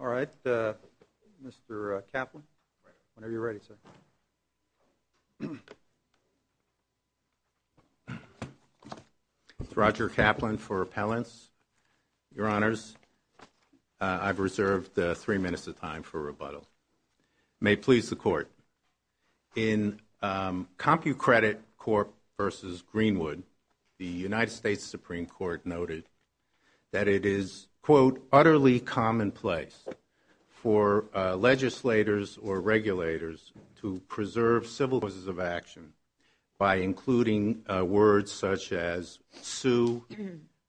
All right. Mr. Kaplan, whenever you're ready, sir. Roger Kaplan for Appellants. Your Honors, I've reserved three minutes of time for rebuttal. May it please the Court, in CompuCredit Corp. v. Greenwood, the United States Supreme Court noted that it is, quote, utterly commonplace for legislators or regulators to preserve civil causes of action by including words such as sue,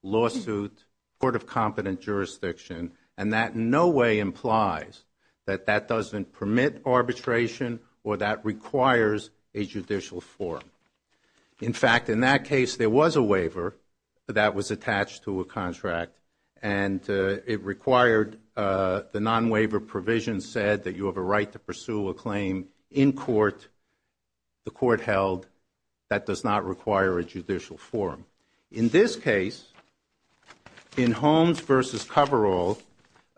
lawsuit, court of competent jurisdiction, and that in no way implies that that doesn't permit arbitration or that requires a judicial forum. In fact, in that case, there was a waiver that was attached to a contract, and it required the non-waiver provision said that you have a right to pursue a claim in court, the court held, that does not require a judicial forum. In this case, in Holmes v. Coverall,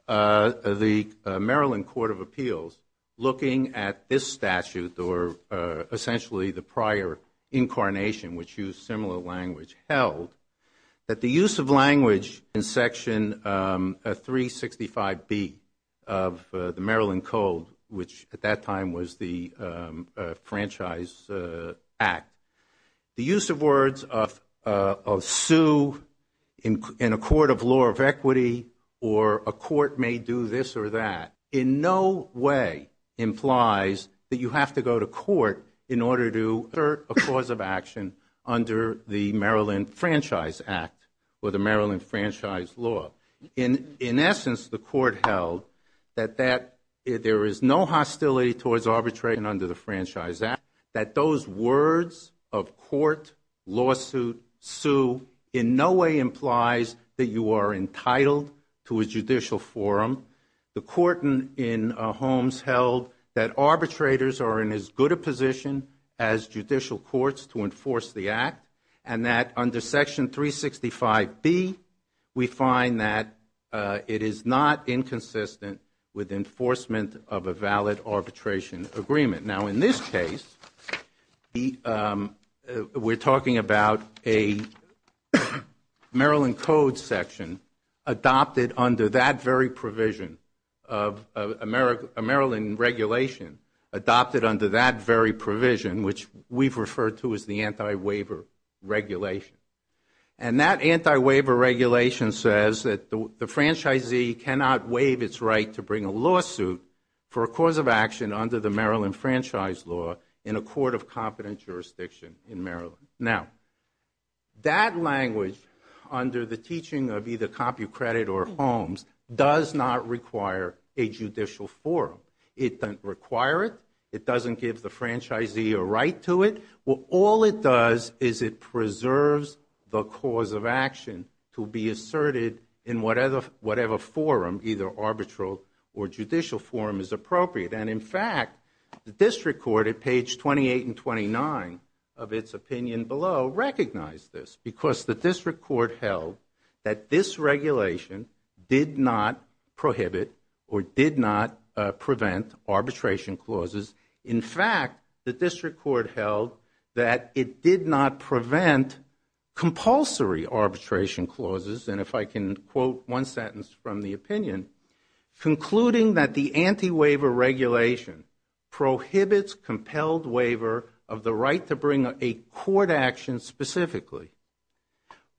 the Maryland Court of Appeals, looking at this statute, or essentially the prior incarnation, which used similar language, held that the use of language in Section 365B of the Maryland Code, which at that time was the Franchise Act, the use of words of sue in a court of law of equity or a court may do this or that, in no way implies that you in order to assert a cause of action under the Maryland Franchise Act or the Maryland Franchise Law. In essence, the court held that there is no hostility towards arbitration under the Franchise Act, that those words of court, lawsuit, sue, in no way implies that you are entitled to a judicial forum. The court in Holmes held that arbitrators are in as good a position as judicial courts to enforce the Act, and that under Section 365B, we find that it is not inconsistent with enforcement of a valid arbitration agreement. Now in this case, we're talking about a Maryland Code section adopted under that very provision of a Maryland regulation adopted under that very provision, which we've referred to as the Anti-Waiver Regulation. And that Anti-Waiver Regulation says that the franchisee cannot waive its right to bring a lawsuit for a cause of action under the Maryland Franchise Law in a court of competent jurisdiction in Maryland. Now, that language, under the teaching of either CompuCredit or Holmes, does not require a judicial forum. It doesn't require it. It doesn't give the franchisee a right to it. Well, all it does is it preserves the cause of action to be asserted in whatever forum, either arbitral or judicial forum, is appropriate. And in fact, the district court at page 28 and 29 of its opinion below recognized this because the district court held that this regulation did not prohibit or did not prevent arbitration clauses. In fact, the district court held that it did not prevent compulsory arbitration clauses. And if I can quote one sentence from the opinion, concluding that the Anti-Waiver Regulation prohibits compelled waiver of the right to bring a court action specifically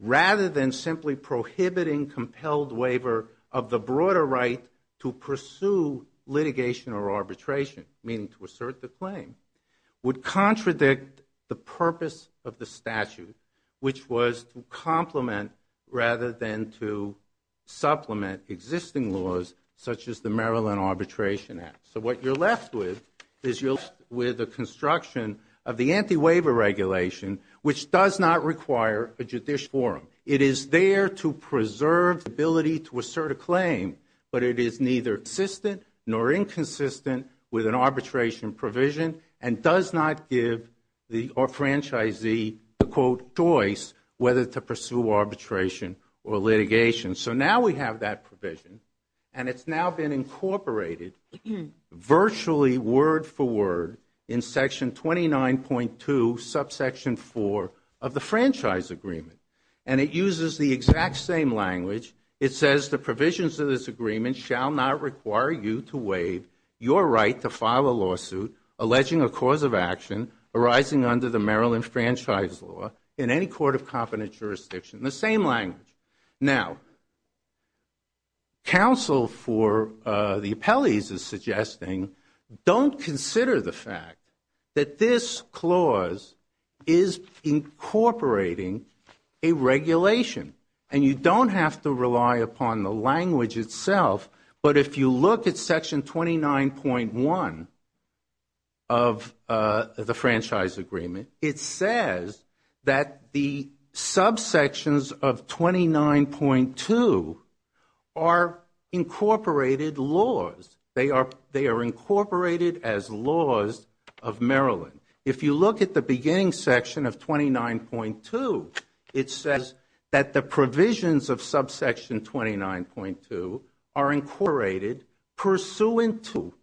rather than simply prohibiting compelled waiver of the broader right to pursue litigation or arbitration, meaning to assert the claim, would contradict the purpose of the statute, which was to complement rather than to supplement existing laws such as the Maryland Arbitration Act. So what you're left with is you're left with the construction of the Anti-Waiver Regulation, which does not require a judicial forum. It is there to preserve the ability to assert a claim, but it is neither consistent nor inconsistent with an arbitration provision and does not give the franchisee a, quote, choice whether to pursue arbitration or litigation. So now we have that provision, and it's now been incorporated virtually word for word in Section 29.2, Subsection 4 of the Franchise Agreement. And it uses the exact same language. It says, the provisions of this agreement shall not require you to waive your right to file a lawsuit alleging a cause of action arising under the Maryland Franchise Law in any court of competent jurisdiction. The same the appellees are suggesting, don't consider the fact that this clause is incorporating a regulation. And you don't have to rely upon the language itself, but if you look at Section 29.1 of the Franchise Agreement, it says that the subsections of 29.2 are incorporated laws. They are incorporated as laws of Maryland. If you look at the beginning section of 29.2, it says that the provisions of Subsection 29.2 are incorporated pursuant to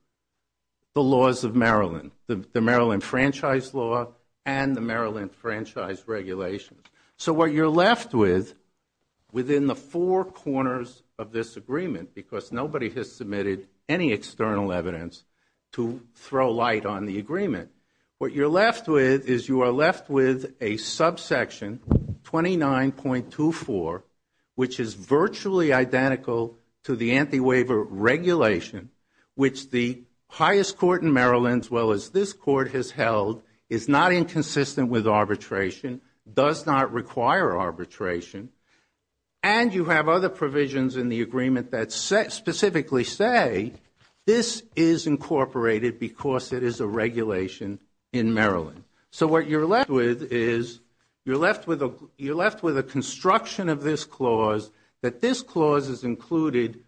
the laws of Maryland, the Maryland Franchise Law and the Maryland Franchise Regulations. So what you're left with within the four corners of this agreement, because nobody has submitted any external evidence to throw light on the agreement, what you're left with is you are left with 29.24, which is virtually identical to the Anti-Waiver Regulation, which the highest court in Maryland, as well as this court has held, is not inconsistent with arbitration, does not require arbitration. And you have other provisions in the agreement that specifically say this is incorporated because it is a regulation in Maryland. So what you're left with is you're left with a construction of this clause, that this clause is included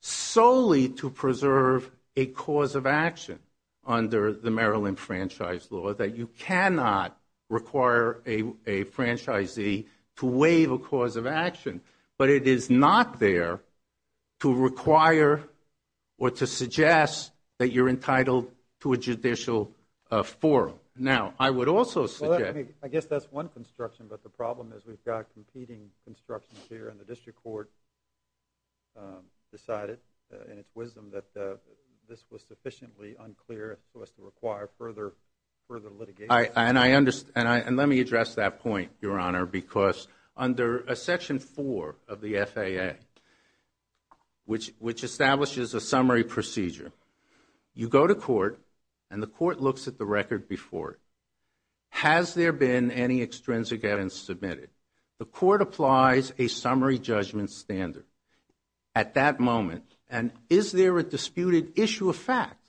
solely to preserve a cause of action under the Maryland Franchise Law, that you cannot require a franchisee to waive a cause of action. But it is not there to require or to suggest that you're entitled to a judicial forum. Now, I would also suggest... We've got competing constructions here, and the district court decided, in its wisdom, that this was sufficiently unclear for us to require further litigation. And let me address that point, Your Honor, because under Section 4 of the FAA, which establishes a summary procedure, you go to court and the court looks at the record before it. Has there been any extrinsic evidence submitted? The court applies a summary judgment standard at that moment. And is there a disputed issue of fact?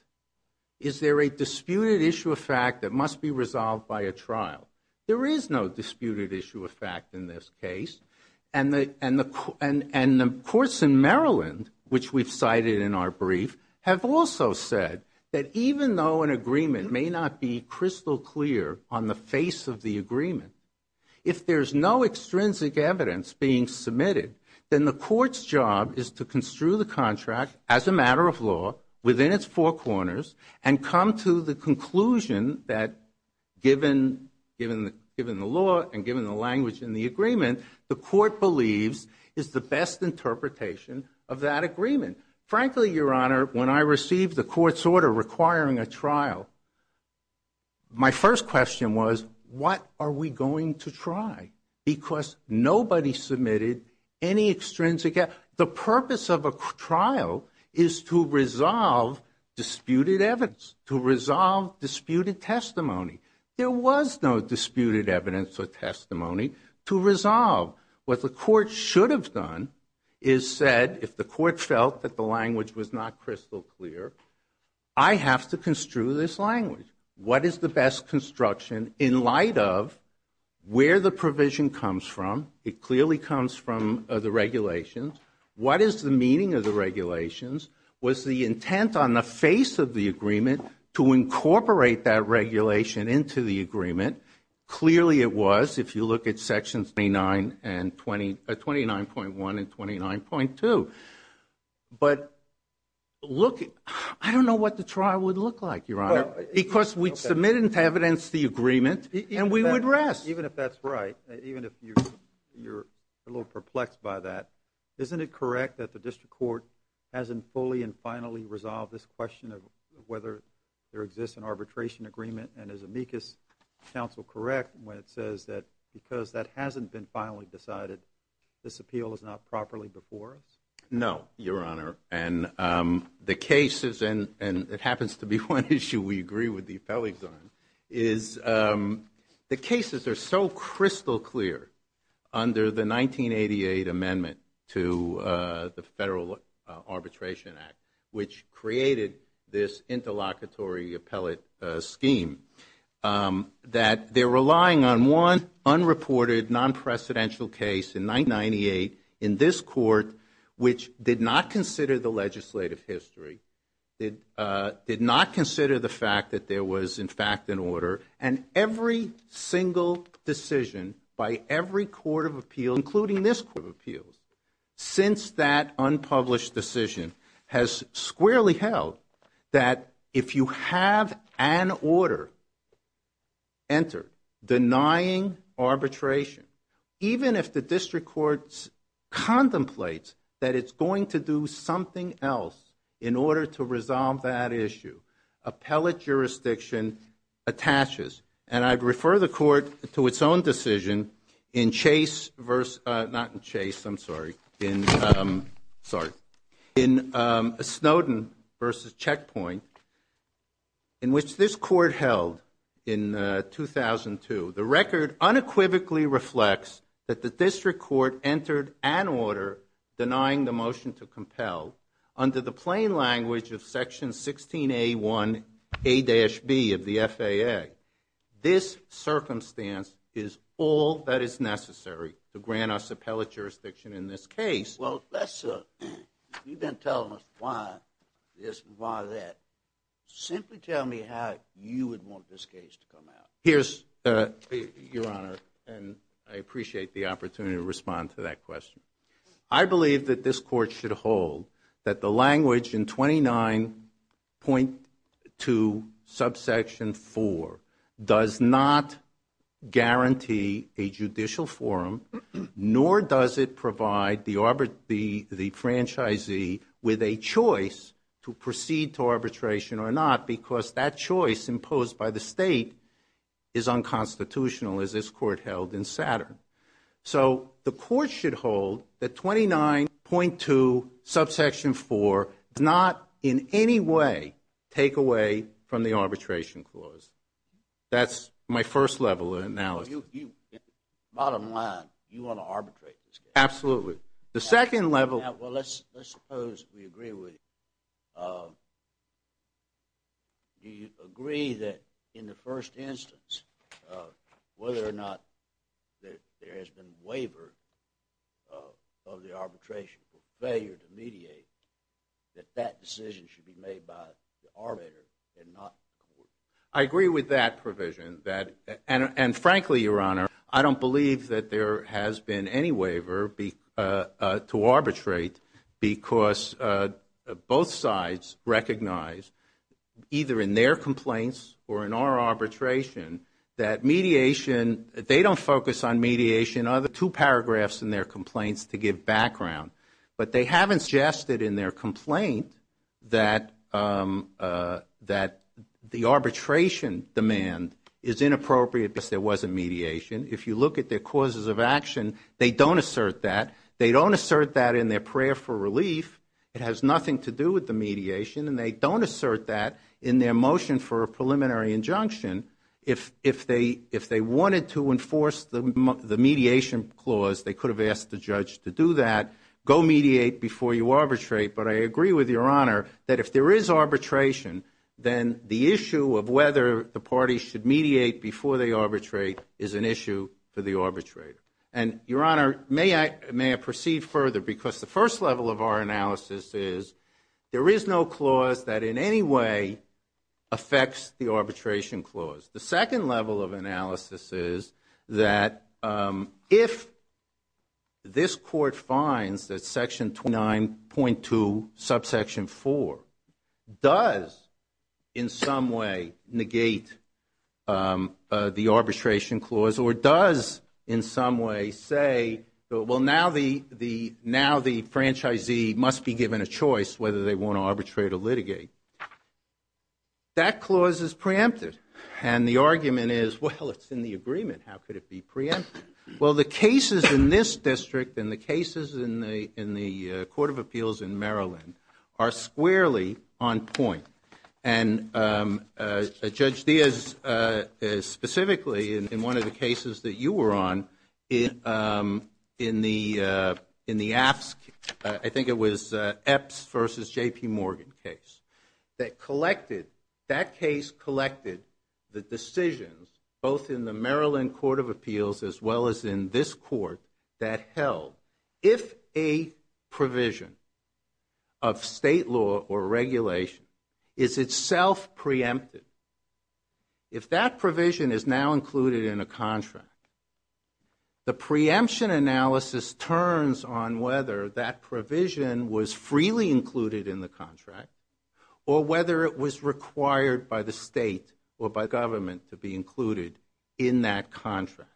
Is there a disputed issue of fact that must be resolved by a trial? There is no disputed issue of fact in this case. And the courts in Maryland, which we've cited in our brief, have also said that even though an agreement may not be crystal clear on the face of the agreement, if there's no extrinsic evidence being submitted, then the court's job is to construe the contract as a matter of law within its four corners and come to the conclusion that, given the law and given the language in the agreement, the court believes is the best interpretation of that agreement. Frankly, Your Honor, when I received the court's order requiring a trial, my first question was, what are we going to try? Because nobody submitted any extrinsic evidence. The purpose of a trial is to resolve disputed evidence, to resolve disputed testimony. There was no disputed evidence or testimony to resolve. What the court should have done is said, if the court felt that the language was not crystal clear, I have to construe this language. What is the best construction in light of where the provision comes from? It clearly comes from the regulations. What is the meaning of the regulations? Was the intent on the face of the agreement to incorporate that regulation into the agreement? Clearly it was, if you look at sections 29.1 and 29.2. But look, I don't know what the trial would look like, Your Honor, because we submitted evidence to the agreement and we would rest. Even if that's right, even if you're a little perplexed by that, isn't it correct that the district court hasn't fully and finally resolved this question of whether there exists an arbitration agreement? And is amicus counsel correct when it says that because that hasn't been finally decided, this appeal is not properly before us? No, Your Honor. And the cases, and it happens to be one issue we agree with the appellees on, is the cases are so crystal clear under the 1988 amendment to the Federal Arbitration Act, which created this interlocutory appellate scheme, that they're relying on one unreported non-precedential case in 1998 in this court, which did not consider the legislative history, did not consider the fact that there was, in fact, an order. And every single decision by every court of appeal, including this court of appeals, since that unpublished decision, has squarely held that if you have an order entered denying arbitration, even if the district court contemplates that it's going to do something else in order to resolve that issue, appellate jurisdiction attaches. And I'd refer the court to its own decision in Chase versus, not in Chase, I'm sorry, in which this court held in 2002, the record unequivocally reflects that the district court entered an order denying the motion to compel under the plain language of section 16A1A-B of the FAA. This circumstance is all that is necessary to grant us appellate jurisdiction in this case. Well, you've been telling us why this and why that. Simply tell me how you would want this case to come out. Here's, Your Honor, and I appreciate the opportunity to respond to that question. I believe that this court should hold that the language in 29.2 subsection 4 does not guarantee a judicial forum, nor does it provide the franchisee with a choice to proceed to arbitration or not, because that choice imposed by the state is unconstitutional, as this court held in Saturn. So the court should hold that 29.2 subsection 4 does not in any way take away from the arbitration clause. That's my first level of analysis. Bottom line, you want to arbitrate this case? Absolutely. The second level... Well, let's suppose we agree with you. Do you agree that in the first instance, whether or not there has been waiver of the arbitration for failure to mediate, that decision should be made by the arbitrator and not the court? I agree with that provision, and frankly, Your Honor, I don't believe that there has been any waiver to arbitrate, because both sides recognize, either in their complaints or in our arbitration, that mediation... They don't focus on mediation. There are two paragraphs in their complaints to give background, but they haven't suggested in their complaint that the arbitration demand is inappropriate because there wasn't mediation. If you look at their causes of action, they don't assert that. They don't assert that in their prayer for relief. It has nothing to do with the mediation, and they don't assert that in their motion for a preliminary injunction. If they wanted to enforce the mediation clause, they could have asked the judge to do that. Go mediate before you arbitrate, but I agree with Your Honor that if there is arbitration, then the issue of whether the parties should mediate before they arbitrate is an issue for the arbitrator. And Your Honor, may I proceed further, because the first level of our analysis is there is no clause that in any way affects the arbitration clause. The second level of analysis is that if this court finds that Section 29.2, subsection 4, does in some way negate the arbitration clause, or does in some way say, well, now the franchisee must be given a choice whether they want to arbitrate or litigate. That clause is preempted, and the argument is, well, it's in the agreement. How could it be preempted? Well, the cases in this district and the cases in the Court of Appeals in Maryland are squarely on point. And Judge Diaz, specifically in one of the cases that you were on in the AFSC, I think it was Epps v. J.P. Morgan case, that case collected the decisions, both in the Maryland Court of Appeals as well as in this court, that held, if a provision of state law or regulation is itself preempted, if that provision is now included in a contract, the preemption analysis turns on whether that provision was freely included in the contract, or whether it was required by the state or by government to be included in that contract.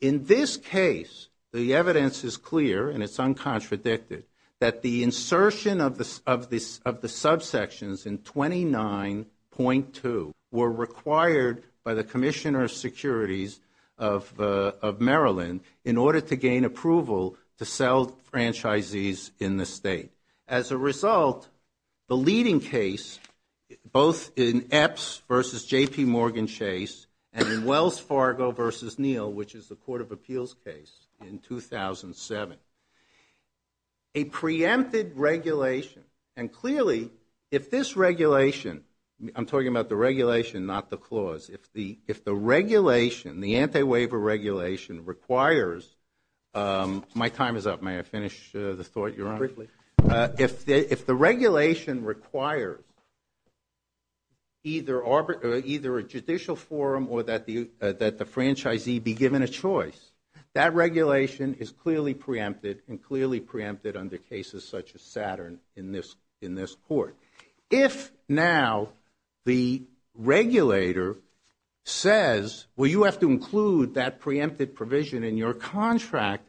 In this case, the evidence is clear, and it's uncontradicted, that the insertion of the subsections in 29.2 were required by the Commissioner of Securities of Maryland in order to gain approval to sell franchisees in the state. As a result, the leading case, both in Epps v. J.P. Morgan Chase and in Wells Fargo v. Neal, which is the Court of Appeals case in 2007, a preempted regulation, and clearly, if this regulation, I'm talking about the regulation, not the clause, if the regulation, the anti-waiver regulation requires, my time is up, may I finish the thought, Your Honor? Quickly. If the regulation requires either a judicial forum or that the franchisee be given a choice, that regulation is clearly preempted and clearly preempted under cases such as Saturn in this court. If now the regulator says, well, you have to include that preempted provision in your contract,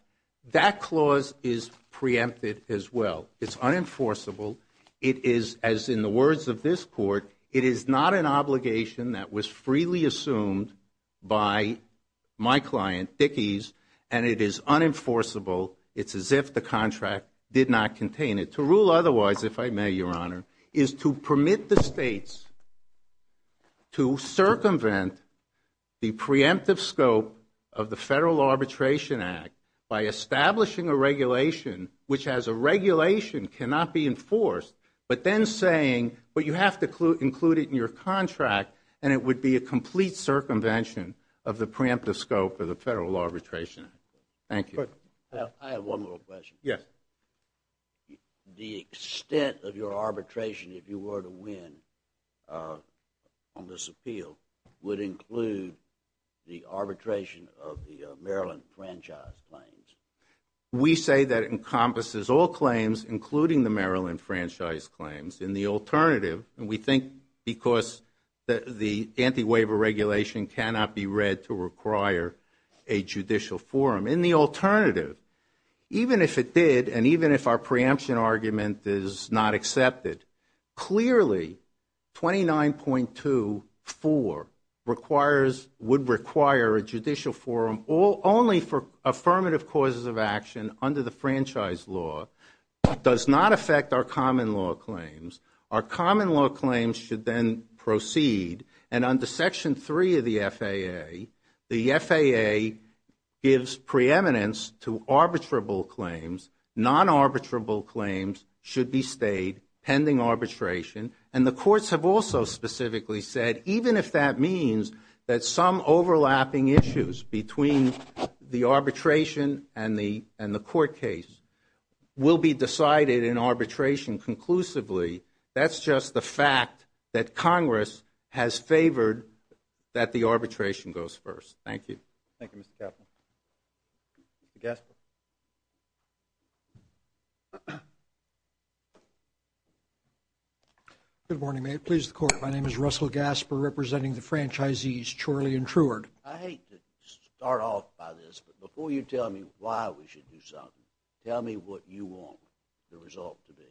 that clause is preempted as well. It's unenforceable. It is, as in the words of this court, it is not an obligation that was freely assumed by my client, Dickey's, and it is unenforceable. It's as if the contract did not contain it. To rule otherwise, if I may, Your Honor, is to permit the states to circumvent the preemptive scope of the Federal Arbitration Act by establishing a regulation which as a regulation cannot be enforced, but then saying, but you have to include it in your contract and it would be a complete circumvention of the preemptive scope of the Federal Arbitration Act. Thank you. I have one more question. Yes. The extent of your arbitration, if you were to win on this appeal, would include the arbitration of the Maryland Franchise Claims. We say that it encompasses all claims, including the Maryland Franchise Claims. In the alternative, and we think because the anti-waiver regulation cannot be read to require a judicial forum. In the alternative, even if it did and even if our preemption argument is not accepted, clearly 29.24 would require a judicial forum only for affirmative causes of action under the franchise law, but does not affect our common law claims. Our common law claims should then proceed. And under Section 3 of the FAA, the FAA gives preeminence to arbitrable claims. Non-arbitrable claims should be stayed pending arbitration. And the courts have also specifically said, even if that means that some overlapping issues between the arbitration and the court case will be decided in arbitration conclusively, that's just the fact that Congress has favored that the arbitration goes first. Thank you. Thank you, Mr. Kaplan. Mr. Gasper. Good morning, may it please the court. My name is Russell Gasper representing the franchisees, Chorley and Truard. I hate to start off by this, but before you tell me why we should do something, tell me what you want the result to be.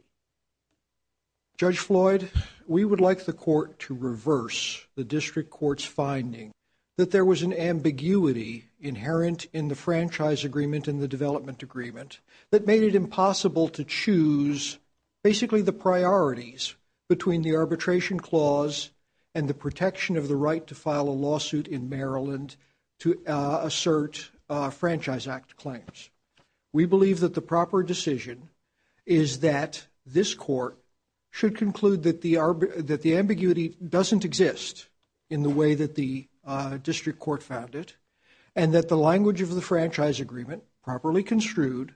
Judge Floyd, we would like the court to reverse the district court's finding that there was an ambiguity inherent in the franchise agreement and the development agreement that made it impossible to choose basically the priorities between the arbitration clause and the protection of the right to file a lawsuit in Maryland to assert franchise act claims. We believe that the proper decision is that this court should conclude that the ambiguity doesn't exist in the way that the district court found it and that the language of the franchise agreement properly construed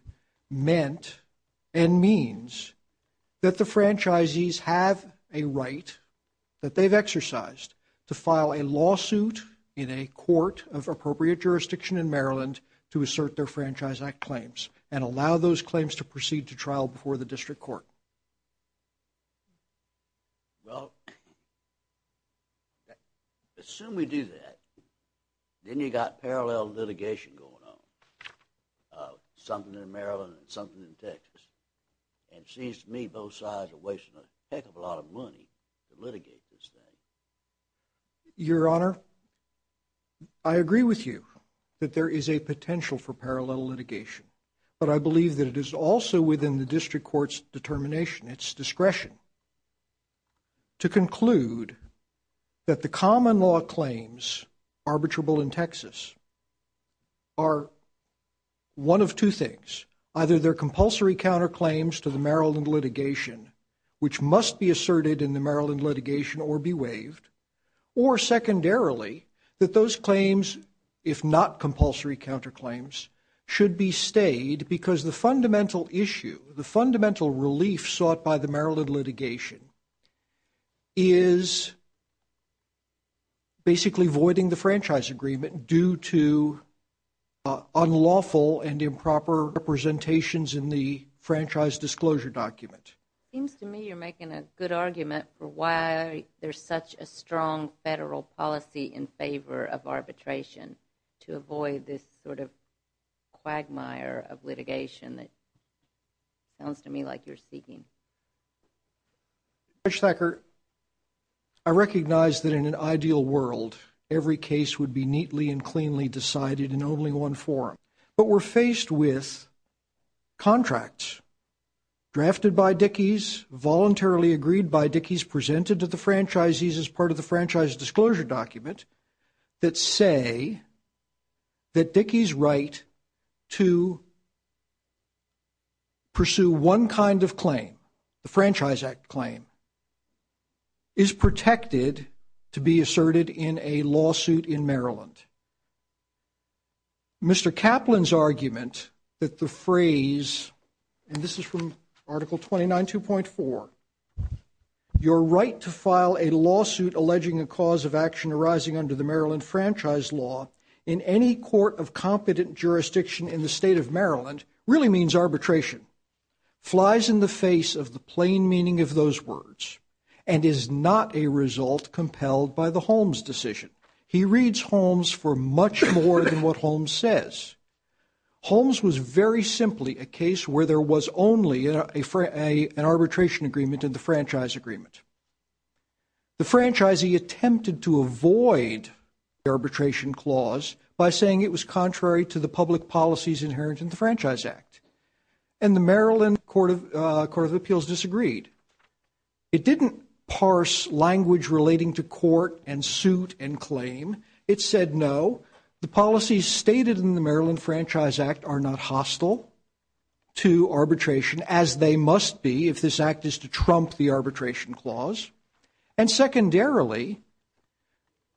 meant and means that the franchisees have a right that they've exercised to file a lawsuit in a court of appropriate jurisdiction in Maryland to assert their franchise act claims and allow those claims to proceed to trial before the district court. Well, assume we do that, then you got parallel litigation going on. And it seems to me both sides are wasting a heck of a lot of money to litigate this thing. Your Honor, I agree with you that there is a potential for parallel litigation, but I believe that it is also within the district court's determination, its discretion to conclude that the common law claims arbitrable in Texas are one of two things, either they're compulsory counterclaims to the Maryland litigation, which must be asserted in the Maryland litigation or be waived, or secondarily, that those claims, if not compulsory counterclaims, should be stayed because the fundamental issue, the fundamental relief sought by the Maryland litigation is basically voiding the franchise agreement due to unlawful and improper representations in the franchise disclosure document. Seems to me you're making a good argument for why there's such a strong federal policy in favor of arbitration to avoid this sort of quagmire of litigation that sounds to me like you're seeking. Judge Thacker, I recognize that in an ideal world, every case would be neatly and cleanly decided in only one forum, but we're faced with contracts drafted by Dickies, voluntarily agreed by Dickies, presented to the franchisees as part of the franchise disclosure document that say that Dickies' right to pursue one kind of claim, the Franchise Act claim, is protected to be asserted in a lawsuit in Maryland. Mr. Kaplan's argument that the phrase, and this is from Article 29.2.4, your right to file a lawsuit alleging a cause of action arising under the Maryland franchise law in any court of competent jurisdiction in the state of Maryland really means arbitration, flies in the face of the plain meaning of those words, and is not a result compelled by the Holmes decision. He reads Holmes for much more than what Holmes says. Holmes was very simply a case where there was only an arbitration agreement in the franchise agreement. The franchisee attempted to avoid the arbitration clause by saying it was contrary to the public policies inherent in the Franchise Act, and the Maryland Court of Appeals disagreed. It didn't parse language relating to court and suit and claim. It said no, the policies stated in the Maryland Franchise Act are not hostile to arbitration, as they must be if this act is to trump the arbitration clause, and secondarily,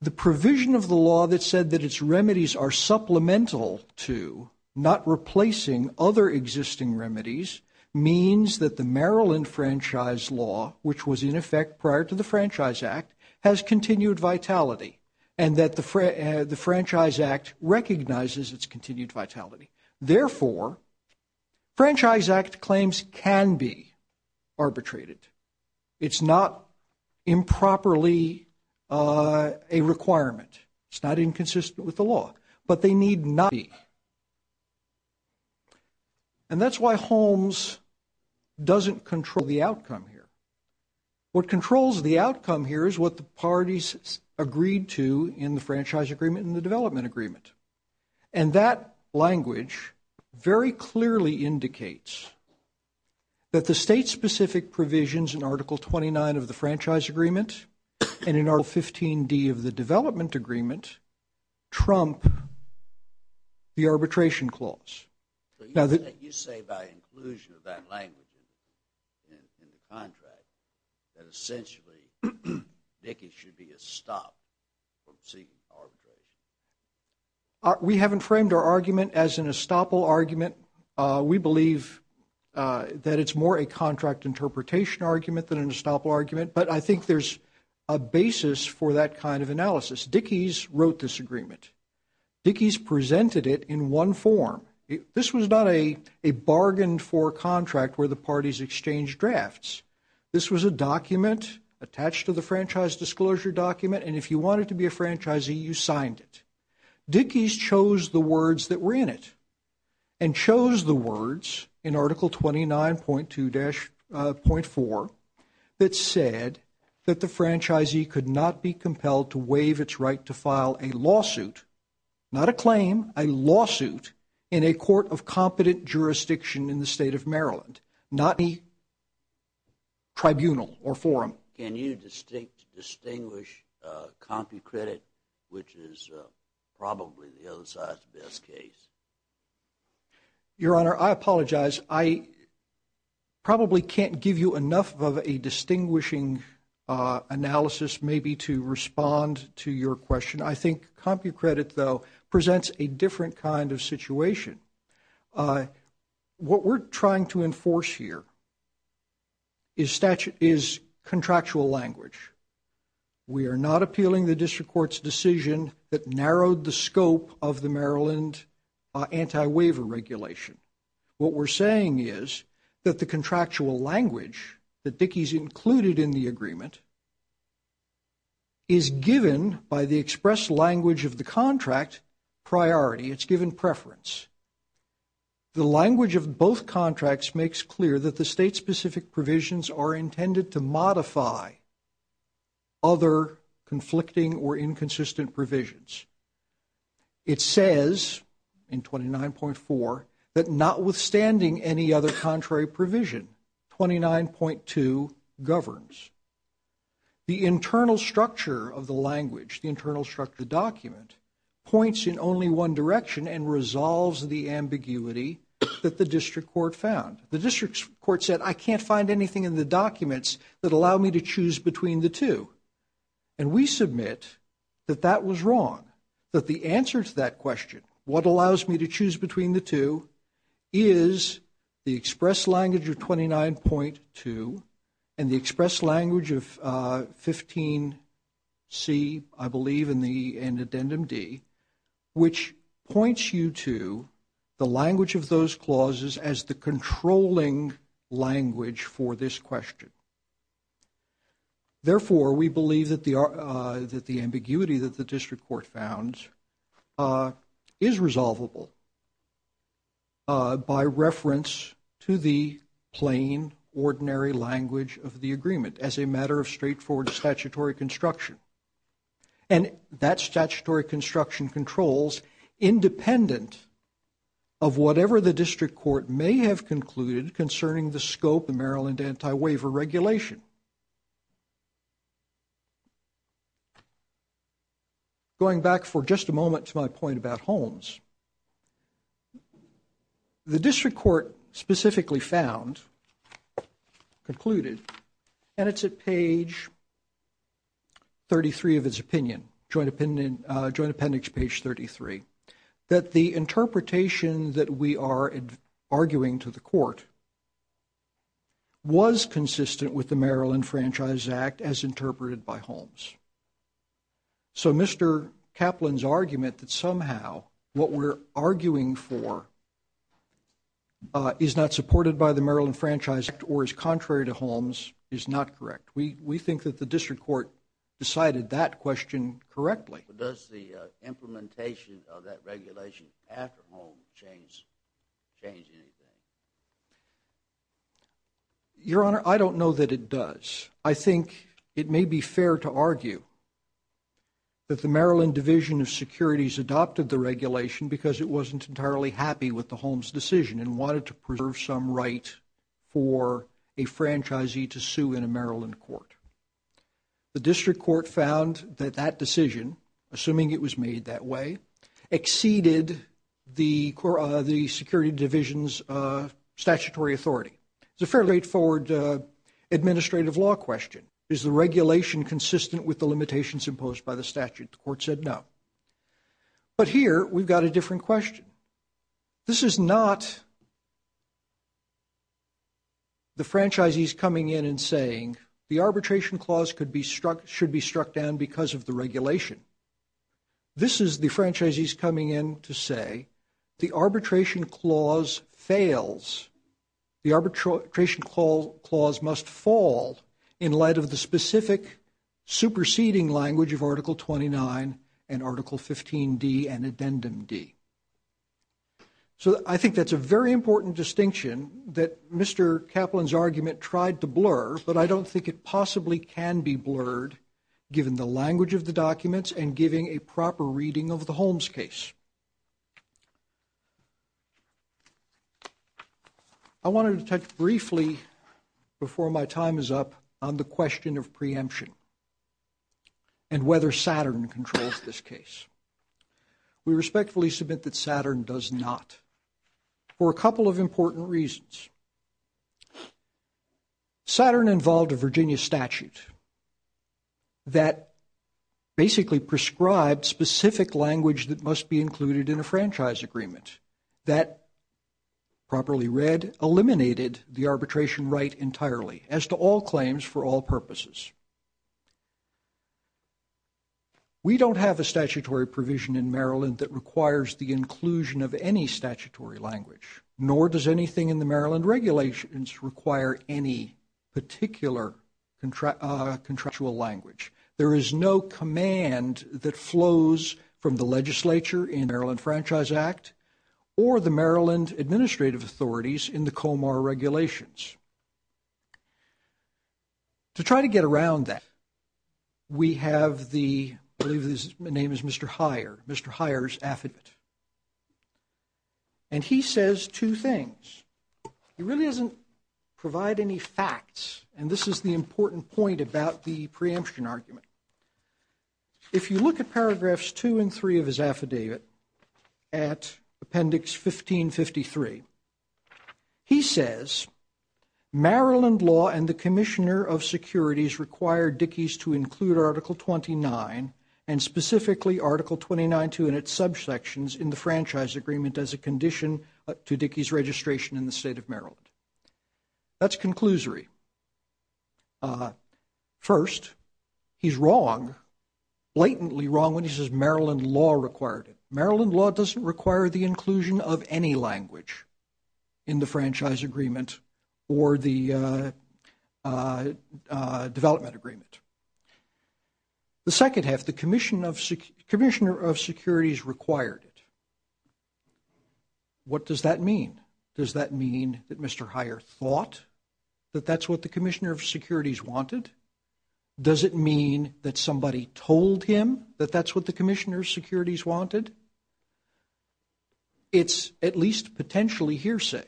the provision of the law that said that its remedies are supplemental to, not replacing, other existing remedies means that the Maryland Franchise Law, which was in effect prior to the Franchise Act, has continued vitality, and that the Franchise Act recognizes its continued vitality. Therefore, Franchise Act claims can be arbitrated. It's not improperly a requirement. It's not inconsistent with the law, but they need not be. And that's why Holmes doesn't control the outcome here. What controls the outcome here is what the parties agreed to in the Franchise Agreement and the Development Agreement, and that language very clearly indicates that the state-specific provisions in Article 29 of the Franchise Agreement and in Article 15d of the Development Agreement trump the arbitration clause. You say by inclusion of that language in the contract that essentially Dickey should be estopped from seeking arbitration. We haven't framed our argument as an estoppel argument. We believe that it's more a contract interpretation argument than an estoppel argument, but I think there's a basis for that kind of analysis. Dickey's wrote this agreement. Dickey's presented it in one form. This was not a bargained-for contract where the parties exchanged drafts. This was a document attached to the Franchise Disclosure Document, and if you wanted to be a franchisee, you signed it. Dickey's chose the words that were in it and chose the words in Article 29.2-.4 that said that the franchisee could not be compelled to waive its right to file a lawsuit, not a claim, a lawsuit in a court of competent jurisdiction in the state of Maryland, not any tribunal or forum. Can you distinguish compu-credit, which is probably the other side's best case? Your Honor, I apologize. I probably can't give you enough of a distinguishing analysis maybe to respond to your question. I think compu-credit, though, presents a different kind of situation. What we're trying to enforce here is contractual language. We are not appealing the district court's decision that narrowed the scope of the Maryland anti-waiver regulation. What we're saying is that the contractual language that Dickey's included in the agreement is given by the express language of the contract priority. It's given preference. The language of both contracts makes clear that the state-specific provisions are intended to modify other conflicting or inconsistent provisions. It says in 29.4 that notwithstanding any other contrary provision, 29.2 governs. The internal structure of the language, the internal structure document points in only one direction and resolves the ambiguity that the district court found. The district court said, I can't find anything in the documents that allow me to choose between the two. And we submit that that was wrong. That the answer to that question, what allows me to choose between the two, is the express language of 29.2 and the express language of 15C, I believe, and addendum D, which points you to the language of those clauses as the controlling language for this question. Therefore, we believe that the ambiguity that the district court found is resolvable by reference to the plain, ordinary language of the agreement as a matter of straightforward statutory construction. And that statutory construction controls independent of whatever the district court may have regulation. Going back for just a moment to my point about Holmes, the district court specifically found, concluded, and it's at page 33 of his opinion, joint appendix page 33, that the interpretation that we are arguing to the court was consistent with the Maryland Franchise Act as interpreted by Holmes. So Mr. Kaplan's argument that somehow what we're arguing for is not supported by the Maryland Franchise Act or is contrary to Holmes is not correct. We think that the district court decided that question correctly. Does the implementation of that regulation after Holmes change anything? Your Honor, I don't know that it does. I think it may be fair to argue that the Maryland Division of Securities adopted the regulation because it wasn't entirely happy with the Holmes decision and wanted to preserve some right for a franchisee to sue in a Maryland court. The district court found that that decision, assuming it was made that way, exceeded the security division's statutory authority. It's a fairly straightforward administrative law question. Is the regulation consistent with the limitations imposed by the statute? The court said no. But here we've got a different question. This is not the franchisees coming in and saying the arbitration clause should be struck down because of the regulation. This is the franchisees coming in to say the arbitration clause fails. The arbitration clause must fall in light of the specific superseding language of Article 29 and Article 15D and Addendum D. So I think that's a very important distinction that Mr. Kaplan's argument tried to blur, but I don't think it possibly can be blurred given the language of the documents and giving a proper reading of the Holmes case. I wanted to touch briefly before my time is up on the question of preemption and whether Saturn controls this case. We respectfully submit that Saturn does not for a couple of important reasons. Saturn involved a Virginia statute that basically prescribed specific language that must be included in a franchise agreement that, properly read, eliminated the arbitration right entirely as to all claims for all purposes. We don't have a statutory provision in Maryland that requires the inclusion of any statutory language, nor does anything in the Maryland regulations require any particular contractual language. There is no command that flows from the legislature in the Maryland Franchise Act or the Maryland administrative authorities in the Comar regulations. To try to get around that, we have the, I believe his name is Mr. Heyer, Mr. Heyer's affidavit. And he says two things. He really doesn't provide any facts, and this is the important point about the preemption argument. If you look at paragraphs two and three of his affidavit at Appendix 1553, he says, Maryland law and the Commissioner of Securities required Dickey's to include Article 29, and specifically Article 29 too in its subsections in the franchise agreement as a condition to Dickey's registration in the state of Maryland. That's conclusory. First, he's wrong, blatantly wrong when he says Maryland law required it. Maryland law doesn't require the inclusion of any language in the franchise agreement or the development agreement. The second half, the Commissioner of Securities required it. What does that mean? Does that mean that Mr. Heyer thought that that's what the Commissioner of Securities wanted? Does it mean that somebody told him that that's what the Commissioner of Securities wanted? It's at least potentially hearsay.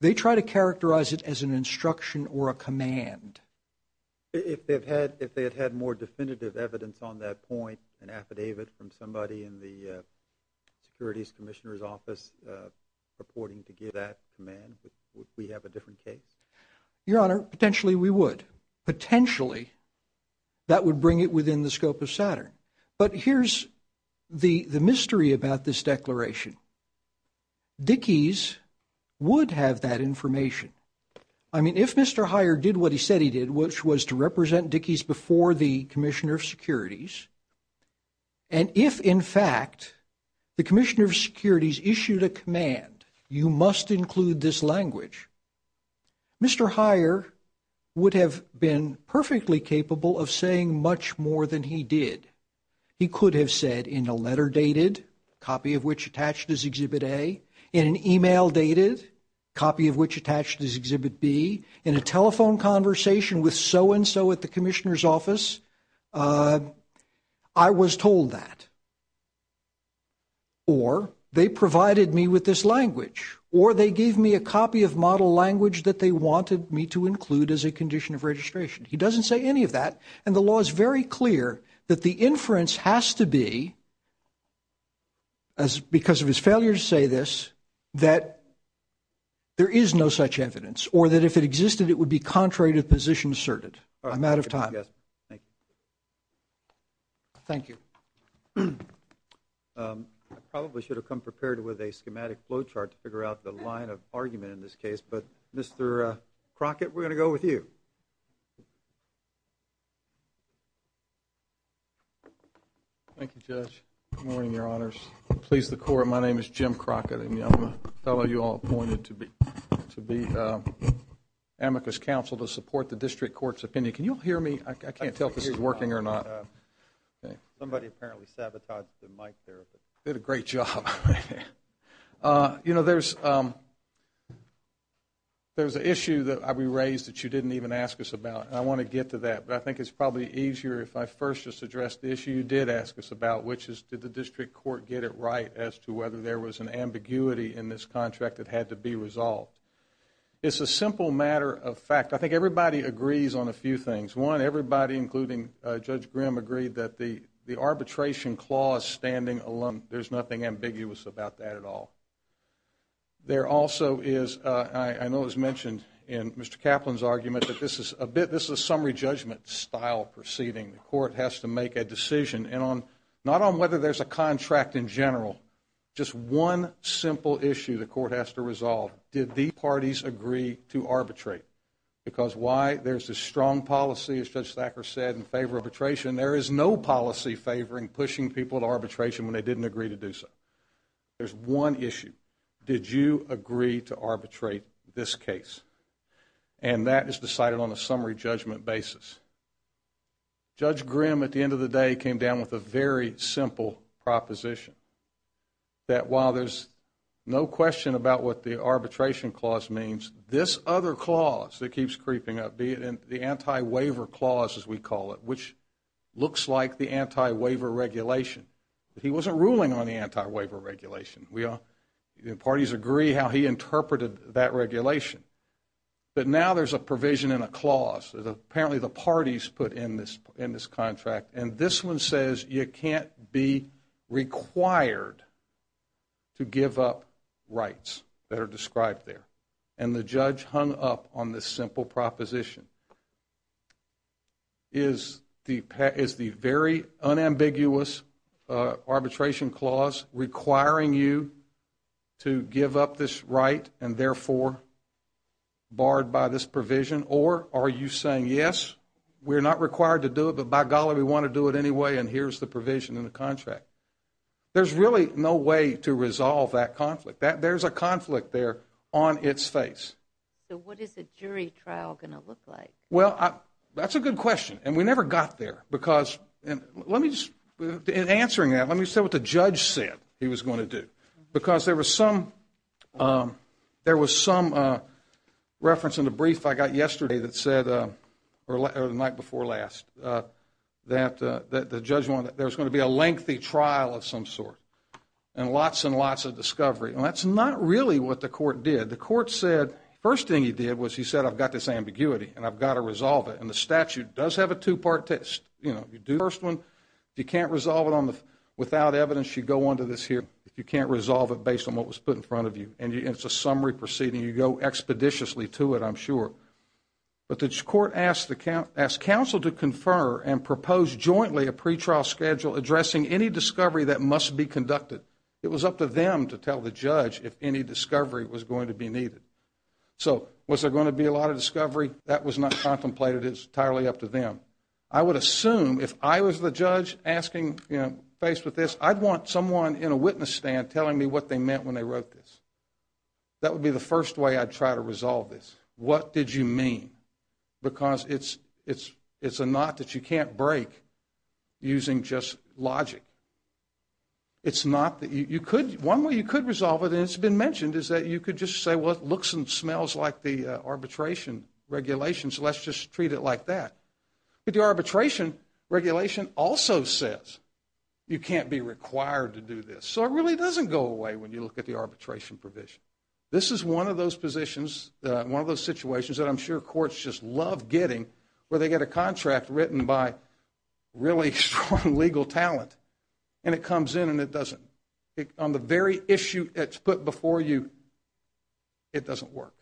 They try to characterize it as an instruction or a command. If they had had more definitive evidence on that point, an affidavit from somebody in the Securities Commissioner's office purporting to give that command, would we have a different case? Your Honor, potentially we would. Potentially, that would bring it within the scope of Saturn. But here's the mystery about this declaration. Dickey's would have that information. I mean, if Mr. Heyer did what he said he did, which was to represent Dickey's before the Commissioner of Securities, and if in fact the Commissioner of Securities issued a command, you must include this language, Mr. Heyer would have been perfectly capable of saying much more than he did. He could have said in a letter dated, copy of which attached as Exhibit A, in an email dated, copy of which attached as Exhibit B, in a telephone conversation with so-and-so at the Commissioner's office, I was told that. Or they provided me with this language. Or they gave me a copy of model language that they wanted me to include as a condition of registration. He doesn't say any of that. And the law is very clear that the inference has to be, because of his failure to say this, that there is no such evidence. Or that if it existed, it would be contrary to the position asserted. I'm out of time. Thank you. I probably should have come prepared with a schematic flow chart to figure out the line of argument in this case. But Mr. Crockett, we're going to go with you. Thank you, Judge. Good morning, Your Honors. Please, the Court. My name is Jim Crockett. And I'm a fellow you all appointed to be amicus counsel to support the district court's opinion. Can you all hear me? I can't tell if this is working or not. Somebody apparently sabotaged the mic there. Did a great job. You know, there's an issue that we raised that you didn't even ask us about. I want to get to that. But I think it's probably easier if I first just address the issue you did ask us about, which is, did the district court get it right as to whether there was an ambiguity in this contract that had to be resolved? It's a simple matter of fact. I think everybody agrees on a few things. One, everybody, including Judge Grimm, agreed that the arbitration clause standing alone, there's nothing ambiguous about that at all. There also is, I know it was mentioned in Mr. Kaplan's argument, that this is a bit, this is a summary judgment style proceeding. The court has to make a decision, and on, not on whether there's a contract in general, just one simple issue the court has to resolve. Did these parties agree to arbitrate? Because why? There's a strong policy, as Judge Thacker said, in favor of arbitration. There is no policy favoring pushing people to arbitration when they didn't agree to do so. There's one issue. Did you agree to arbitrate this case? And that is decided on a summary judgment basis. Judge Grimm, at the end of the day, came down with a very simple proposition, that while there's no question about what the arbitration clause means, this other clause that keeps creeping up, the anti-waiver clause, as we call it, which looks like the anti-waiver regulation, he wasn't ruling on the anti-waiver regulation. We all, the parties agree how he interpreted that regulation. But now there's a provision in a clause that apparently the parties put in this contract, and this one says you can't be required to give up rights that are described there. And the judge hung up on this simple proposition. Is the very unambiguous arbitration clause requiring you to give up this right and therefore barred by this provision? Or are you saying, yes, we're not required to do it, but by golly, we want to do it anyway, and here's the provision in the contract. There's really no way to resolve that conflict. There's a conflict there on its face. So what is a jury trial going to look like? Well, that's a good question. And we never got there. Because let me just, in answering that, let me say what the judge said he was going to Because there was some, there was some reference in the brief I got yesterday that said, or the night before last, that the judge wanted, there was going to be a lengthy trial of some sort. And lots and lots of discovery. And that's not really what the court did. The court said, first thing he did was he said, I've got this ambiguity, and I've got to resolve it. And the statute does have a two-part test. You know, you do the first one. If you can't resolve it without evidence, you go on to this here. If you can't resolve it based on what was put in front of you, and it's a summary proceeding, you go expeditiously to it, I'm sure. But the court asked counsel to confer and propose jointly a pretrial schedule addressing any discovery that must be conducted. It was up to them to tell the judge if any discovery was going to be needed. So was there going to be a lot of discovery? That was not contemplated. It's entirely up to them. I would assume, if I was the judge asking, you know, faced with this, I'd want someone in a witness stand telling me what they meant when they wrote this. That would be the first way I'd try to resolve this. What did you mean? Because it's a knot that you can't break using just logic. It's not that you could. One way you could resolve it, and it's been mentioned, is that you could just say, well, it looks and smells like the arbitration regulation, so let's just treat it like that. But the arbitration regulation also says you can't be required to do this. So it really doesn't go away when you look at the arbitration provision. This is one of those positions, one of those situations, that I'm sure courts just love getting, where they get a contract written by really strong legal talent, and it comes in and it doesn't. On the very issue that's put before you, it doesn't work.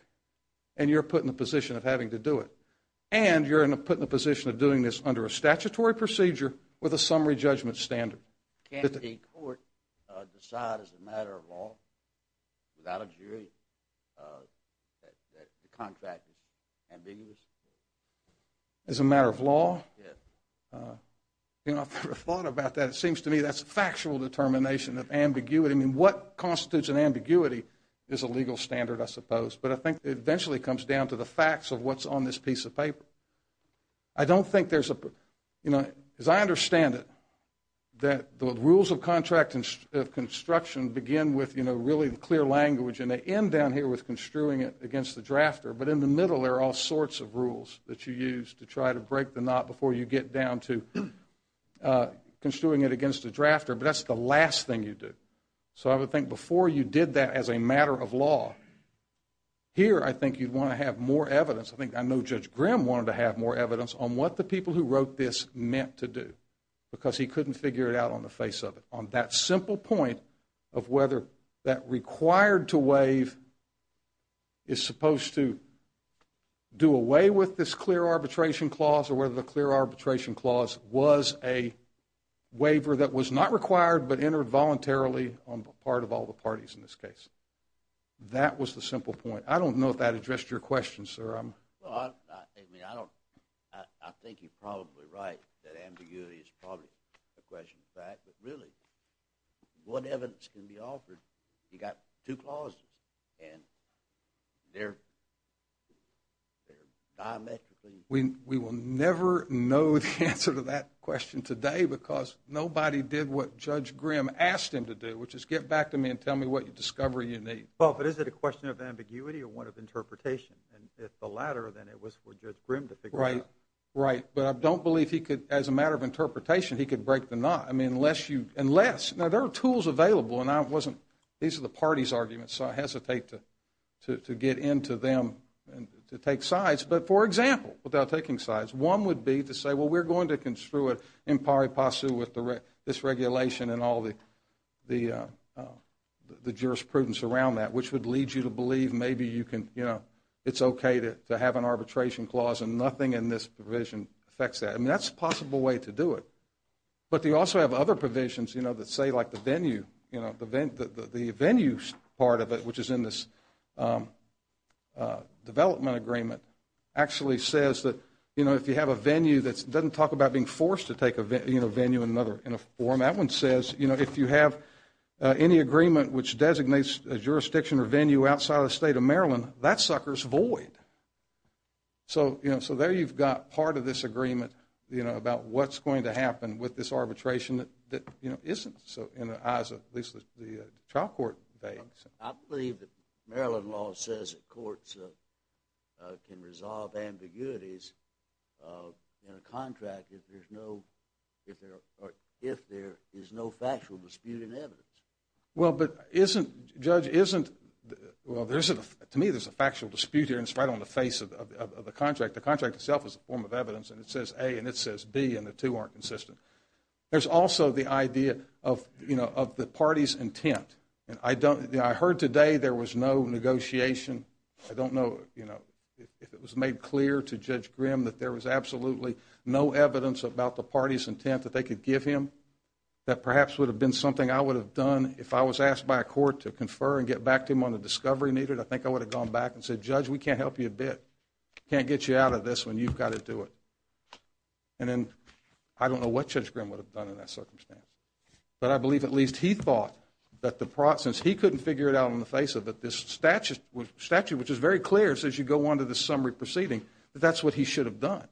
And you're put in the position of having to do it. And you're put in the position of doing this under a statutory procedure with a summary judgment standard. Can a court decide as a matter of law, without a jury, that the contract is ambiguous? As a matter of law? Yes. You know, I've never thought about that. It seems to me that's a factual determination of ambiguity. I mean, what constitutes an ambiguity is a legal standard, I suppose. But I think it eventually comes down to the facts of what's on this piece of paper. I don't think there's a, you know, as I understand it, that the rules of contract and of construction begin with, you know, really the clear language. And they end down here with construing it against the drafter. But in the middle, there are all sorts of rules that you use to try to break the knot before you get down to construing it against the drafter. But that's the last thing you do. So I would think before you did that as a matter of law, here, I think you'd want to have more evidence. I think, I know Judge Grimm wanted to have more evidence on what the people who wrote this meant to do. Because he couldn't figure it out on the face of it. On that simple point of whether that required to waive is supposed to do away with this clear arbitration clause or whether the clear arbitration clause was a waiver that was not required but entered voluntarily on the part of all the parties in this case. That was the simple point. I don't know if that addressed your question, sir. Well, I mean, I don't, I think you're probably right that ambiguity is probably a question of fact. But really, what evidence can be offered? You got two clauses, and they're diametrically different. We will never know the answer to that question today because nobody did what Judge Grimm asked him to do, which is get back to me and tell me what discovery you need. But is it a question of ambiguity or one of interpretation? And if the latter, then it was for Judge Grimm to figure out. Right, but I don't believe he could, as a matter of interpretation, he could break the knot. I mean, unless you, unless, now there are tools available and I wasn't, these are the parties' arguments, so I hesitate to get into them and to take sides. But for example, without taking sides, one would be to say, well, we're going to construe it in pari passu with this regulation and all the jurisprudence around that, which would lead you to believe maybe you can, you know, it's okay to have an arbitration clause and nothing in this provision affects that. I mean, that's a possible way to do it. But they also have other provisions, you know, that say like the venue, you know, the venue part of it, which is in this development agreement, actually says that, you know, if you have a venue that doesn't talk about being forced to take a venue in a form, that one says, you know, if you have any agreement which designates a jurisdiction or venue outside of the state of Maryland, that sucker's void. So, you know, so there you've got part of this agreement, you know, about what's going to happen with this arbitration that, you know, isn't. So in the eyes of at least the trial court base. I believe that Maryland law says that courts can resolve ambiguities in a contract if there's no, if there is no factual dispute in evidence. Well, but isn't, Judge, isn't, well, there's a, to me, there's a factual dispute here and it's right on the face of the contract. The contract itself is a form of evidence and it says A and it says B and the two aren't consistent. There's also the idea of, you know, of the party's intent. And I don't, I heard today there was no negotiation. I don't know, you know, if it was made clear to Judge Grimm that there was absolutely no evidence about the party's intent that they could give him, that perhaps would have been something I would have done if I was asked by a court to confer and get back to him on the discovery needed. I think I would have gone back and said, Judge, we can't help you a bit. Can't get you out of this when you've got to do it. And then I don't know what Judge Grimm would have done in that circumstance. But I believe at least he thought that the process, he couldn't figure it out on the face of it. This statute, which is very clear, says you go on to the summary proceeding, that that's what he should have done.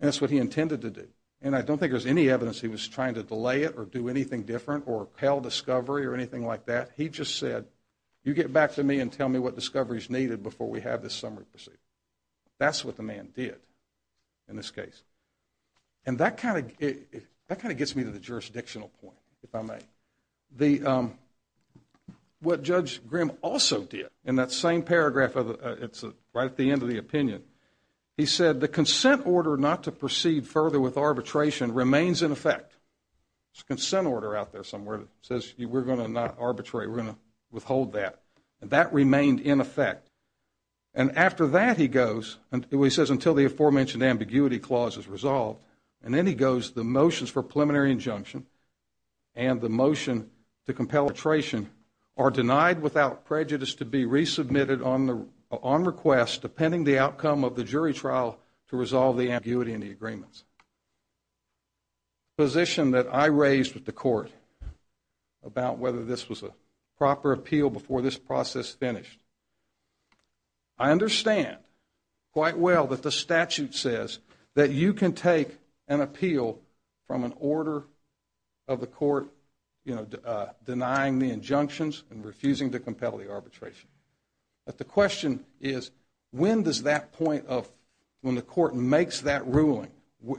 And that's what he intended to do. And I don't think there's any evidence he was trying to delay it or do anything different or repel discovery or anything like that. He just said, you get back to me and tell me what discovery is needed before we have this summary proceeding. That's what the man did in this case. And that kind of, that kind of gets me to the jurisdictional point, if I may. What Judge Grimm also did in that same paragraph, it's right at the end of the opinion. He said, the consent order not to proceed further with arbitration remains in effect. There's a consent order out there somewhere that says we're going to not arbitrate, we're going to withhold that. And that remained in effect. And after that, he goes, he says, until the aforementioned ambiguity clause is resolved. And then he goes, the motions for preliminary injunction and the motion to compel arbitration are denied without prejudice to be resubmitted on request depending the outcome of the jury trial to resolve the ambiguity in the agreements. Position that I raised with the court about whether this was a proper appeal before this process finished. I understand quite well that the statute says that you can take an appeal from an order of the court, you know, denying the injunctions and refusing to compel the arbitration. But the question is, when does that point of, when the court makes that ruling,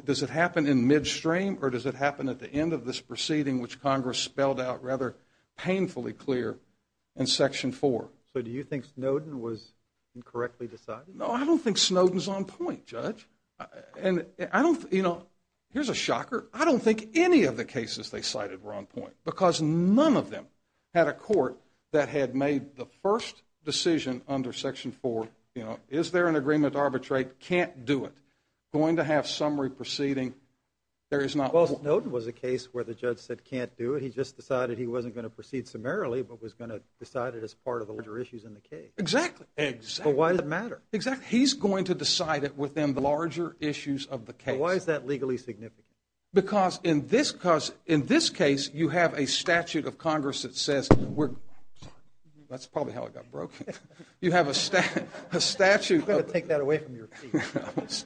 does it happen in midstream or does it happen at the end of this proceeding which Congress spelled out rather painfully clear in section four? So do you think Snowden was incorrectly decided? No, I don't think Snowden's on point, Judge. And I don't, you know, here's a shocker. I don't think any of the cases they cited were on point because none of them had a court that had made the first decision under section four, you know, is there an agreement to arbitrate, can't do it. Going to have summary proceeding, there is not. Well, Snowden was a case where the judge said can't do it. He just decided he wasn't going to proceed summarily, but was going to decide it as part of the larger issues in the case. Exactly, exactly. But why does it matter? Exactly, he's going to decide it within the larger issues of the case. But why is that legally significant? Because in this, because in this case, you have a statute of Congress that says we're, that's probably how it got broken. You have a statute. I'm going to take that away from your feet.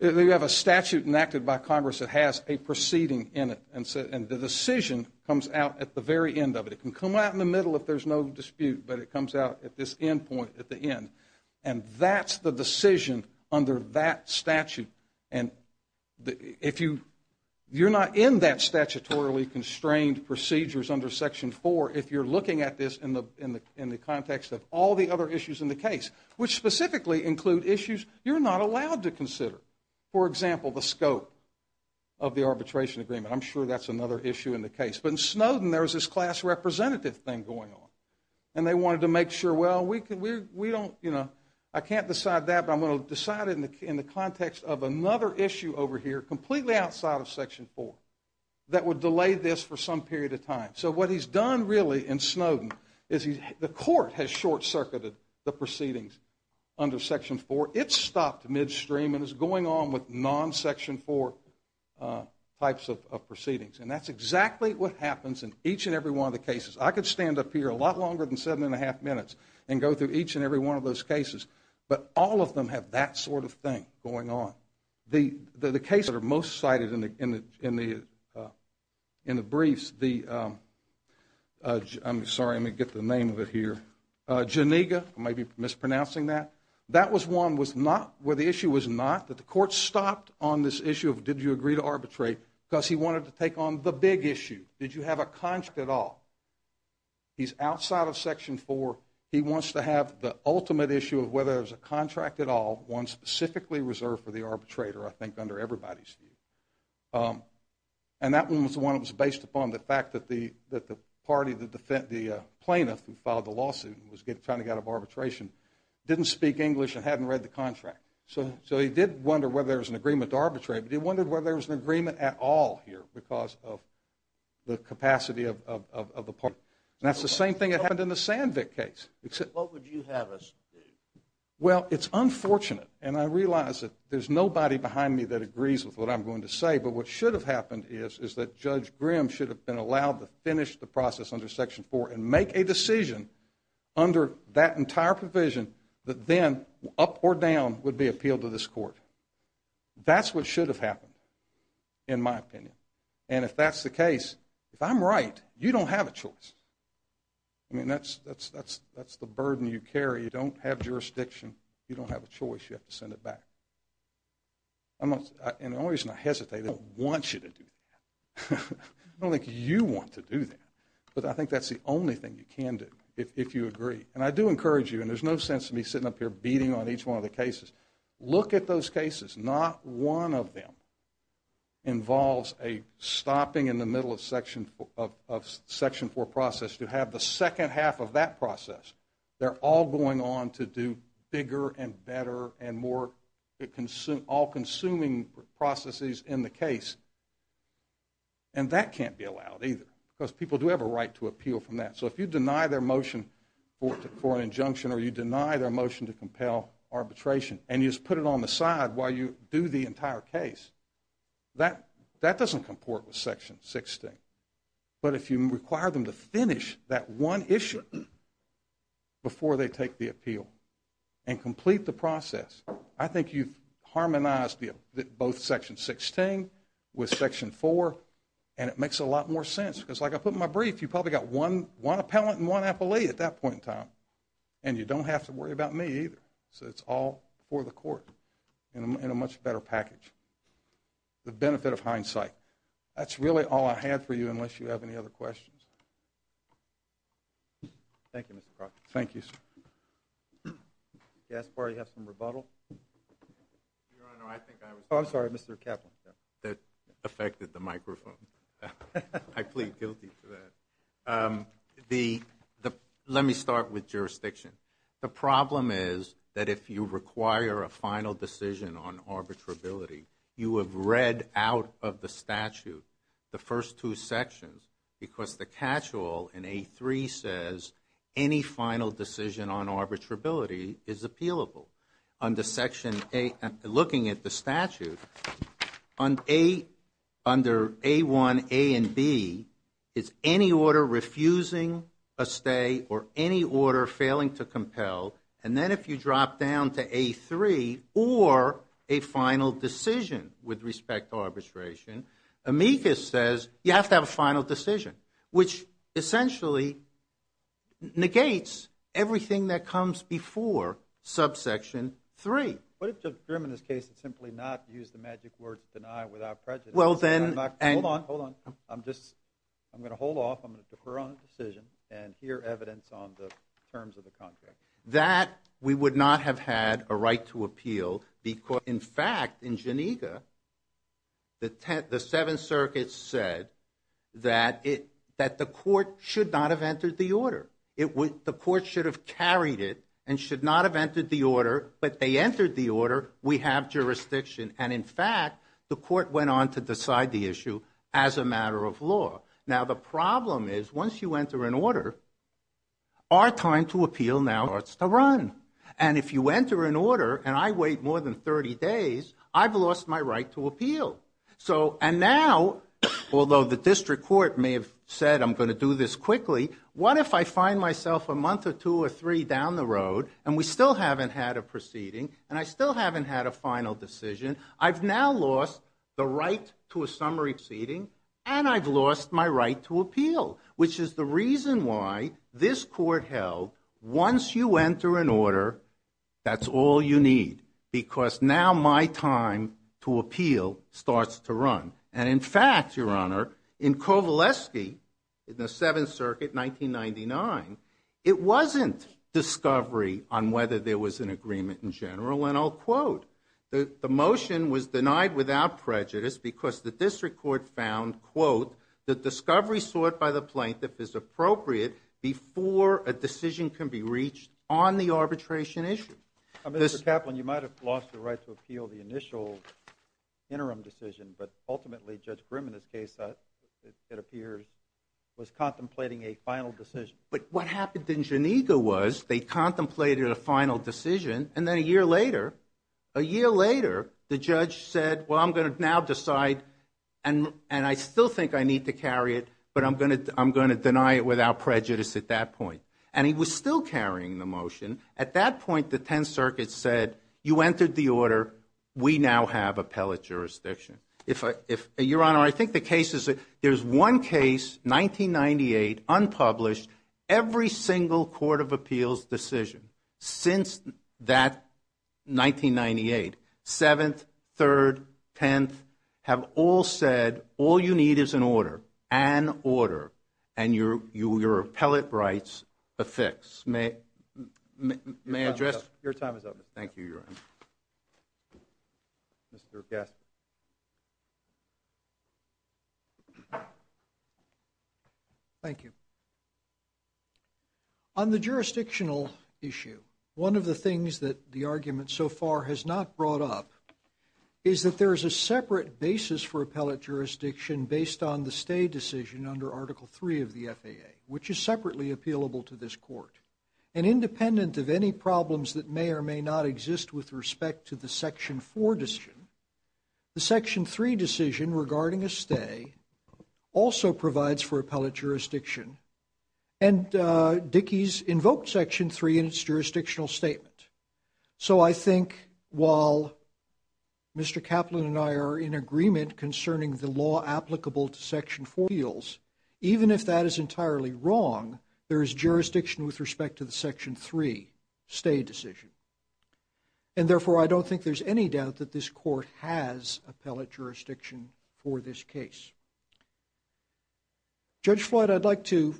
You have a statute enacted by Congress that has a proceeding in it, and the decision comes out at the very end of it. It can come out in the middle if there's no dispute, but it comes out at this end point at the end. And that's the decision under that statute. And if you, you're not in that statutorily constrained procedures under section four, if you're looking at this in the context of all the other issues in the case, which specifically include issues you're not allowed to consider. For example, the scope of the arbitration agreement. I'm sure that's another issue in the case. But in Snowden, there was this class representative thing going on, and they wanted to make sure, well, we don't, you know, I can't decide that, but I'm going to decide it in the context of another issue over here, completely outside of section four, that would delay this for some period of time. So what he's done really in Snowden is the court has short-circuited the proceedings under section four. It's stopped midstream and is going on with non-section four types of proceedings. And that's exactly what happens in each and every one of the cases. I could stand up here a lot longer than seven and a half minutes and go through each and every one of those cases, but all of them have that sort of thing going on. The case that are most cited in the briefs, the, I'm sorry, I'm going to get the name of it here, Janiga, I may be mispronouncing that. That was one where the issue was not that the court stopped on this issue of did you agree to arbitrate, because he wanted to take on the big issue. Did you have a contract at all? He's outside of section four. He wants to have the ultimate issue of whether there's a contract at all, one specifically reserved for the arbitrator, I think, under everybody's view. And that one was the one that was based upon the fact that the party, the plaintiff who filed the lawsuit, who was trying to get out of arbitration, didn't speak English and hadn't read the contract. So he did wonder whether there was an agreement to arbitrate, but he wondered whether there was an agreement at all here because of the capacity of the party. And that's the same thing that happened in the Sandvik case. What would you have us do? Well, it's unfortunate, and I realize that there's nobody behind me that agrees with what I'm going to say, but what should have happened is is that Judge Grimm should have been allowed to finish the process under section four and make a decision under that entire provision that then, up or down, would be appealed to this court. That's what should have happened, in my opinion. And if that's the case, if I'm right, you don't have a choice. I mean, that's the burden you carry. You don't have jurisdiction. You don't have a choice. You have to send it back. And the only reason I hesitate is I don't want you to do that. I don't think you want to do that, but I think that's the only thing you can do if you agree. And I do encourage you, and there's no sense of me sitting up here beating on each one of the cases. Look at those cases. Not one of them involves a stopping in the middle of section four process to have the second half of that process. They're all going on to do bigger and better and more all-consuming processes in the case. And that can't be allowed, either, because people do have a right to appeal from that. So if you deny their motion for an injunction, or you deny their motion to compel arbitration, and you just put it on the side while you do the entire case, that doesn't comport with section 16. But if you require them to finish that one issue, before they take the appeal, and complete the process, I think you've harmonized both section 16 with section four, and it makes a lot more sense. Because like I put in my brief, you probably got one appellant and one appellee at that point in time. And you don't have to worry about me, either. So it's all for the court in a much better package. The benefit of hindsight. That's really all I had for you, unless you have any other questions. Thank you, Mr. Proctor. Thank you, sir. Gaspar, do you have some rebuttal? Your Honor, I think I was... Oh, I'm sorry, Mr. Kaplan. That affected the microphone. I plead guilty to that. The, let me start with jurisdiction. The problem is that if you require a final decision on arbitrability, you have read out of the statute, the first two sections, because the catch-all in A3 says, any final decision on arbitrability is appealable. Under section A, looking at the statute, under A1, A and B, is any order refusing a stay or any order failing to compel. And then if you drop down to A3, or a final decision with respect to arbitration, amicus says, you have to have a final decision, which essentially negates everything that comes before subsection three. What if Judge Grim, in this case, had simply not used the magic word to deny without prejudice? Well, then... Hold on, hold on. I'm just, I'm going to hold off. I'm going to defer on the decision and hear evidence on the terms of the contract. That we would not have had a right to appeal because in fact, in Geneva, the Seventh Circuit said that it, that the court should not have entered the order. It would, the court should have carried it and should not have entered the order, but they entered the order. We have jurisdiction. And in fact, the court went on to decide the issue as a matter of law. Now, the problem is, once you enter an order, our time to appeal now starts to run. And if you enter an order, and I wait more than 30 days, I've lost my right to appeal. So, and now, although the district court may have said, I'm going to do this quickly, what if I find myself a month or two or three down the road and we still haven't had a proceeding and I still haven't had a final decision? I've now lost the right to a summary proceeding and I've lost my right to appeal, which is the reason why this court held, once you enter an order, that's all you need. Because now my time to appeal starts to run. And in fact, Your Honor, in Kovaleski, in the Seventh Circuit, 1999, it wasn't discovery on whether there was an agreement in general. And I'll quote, the motion was denied without prejudice because the district court found, quote, the discovery sought by the plaintiff is appropriate before a decision can be reached on the arbitration issue. Mr. Kaplan, you might've lost the right to appeal the initial interim decision, but ultimately, Judge Grimm, in this case, it appears, was contemplating a final decision. But what happened in Geneva was they contemplated a final decision and then a year later, a year later, the judge said, well, I'm going to now decide and I still think I need to carry it, but I'm going to deny it without prejudice at that point. And he was still carrying the motion. At that point, the 10th Circuit said, you entered the order, we now have appellate jurisdiction. Your Honor, I think the case is, there's one case, 1998, unpublished, every single court of appeals decision since that 1998, 7th, 3rd, 10th, have all said, all you need is an order, an order, and your appellate rights affixed. May I address? Your time is up. Thank you, Your Honor. Mr. Gaskin. Thank you. On the jurisdictional issue, one of the things that the argument so far has not brought up is that there is a separate basis for appellate jurisdiction based on the stay decision under Article III of the FAA, which is separately appealable to this court. And independent of any problems that may or may not exist with respect to the Section 4 decision, the Section 3 decision regarding a stay also provides for appellate jurisdiction. And Dickey's invoked Section 3 in its jurisdictional statement. So I think while Mr. Kaplan and I are in agreement concerning the law applicable to Section 4 appeals, even if that is entirely wrong, there is jurisdiction with respect to the Section 3 stay decision. And therefore, I don't think there's any doubt that this court has appellate jurisdiction for this case. Judge Floyd, I'd like to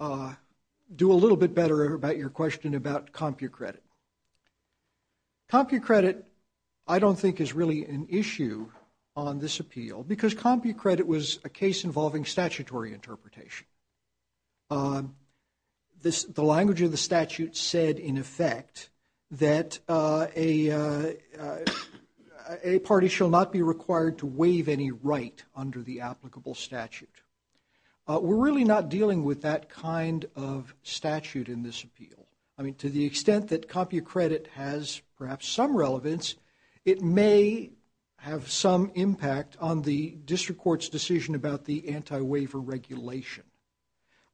do a little bit better about your question about CompuCredit. CompuCredit, I don't think, is really an issue on this appeal because CompuCredit was a case involving statutory interpretation. The language of the statute said, in effect, that a party shall not be required to waive any right under the applicable statute. We're really not dealing with that kind of statute in this appeal. I mean, to the extent that CompuCredit has perhaps some relevance, it may have some impact on the district court's decision about the anti-waiver regulation.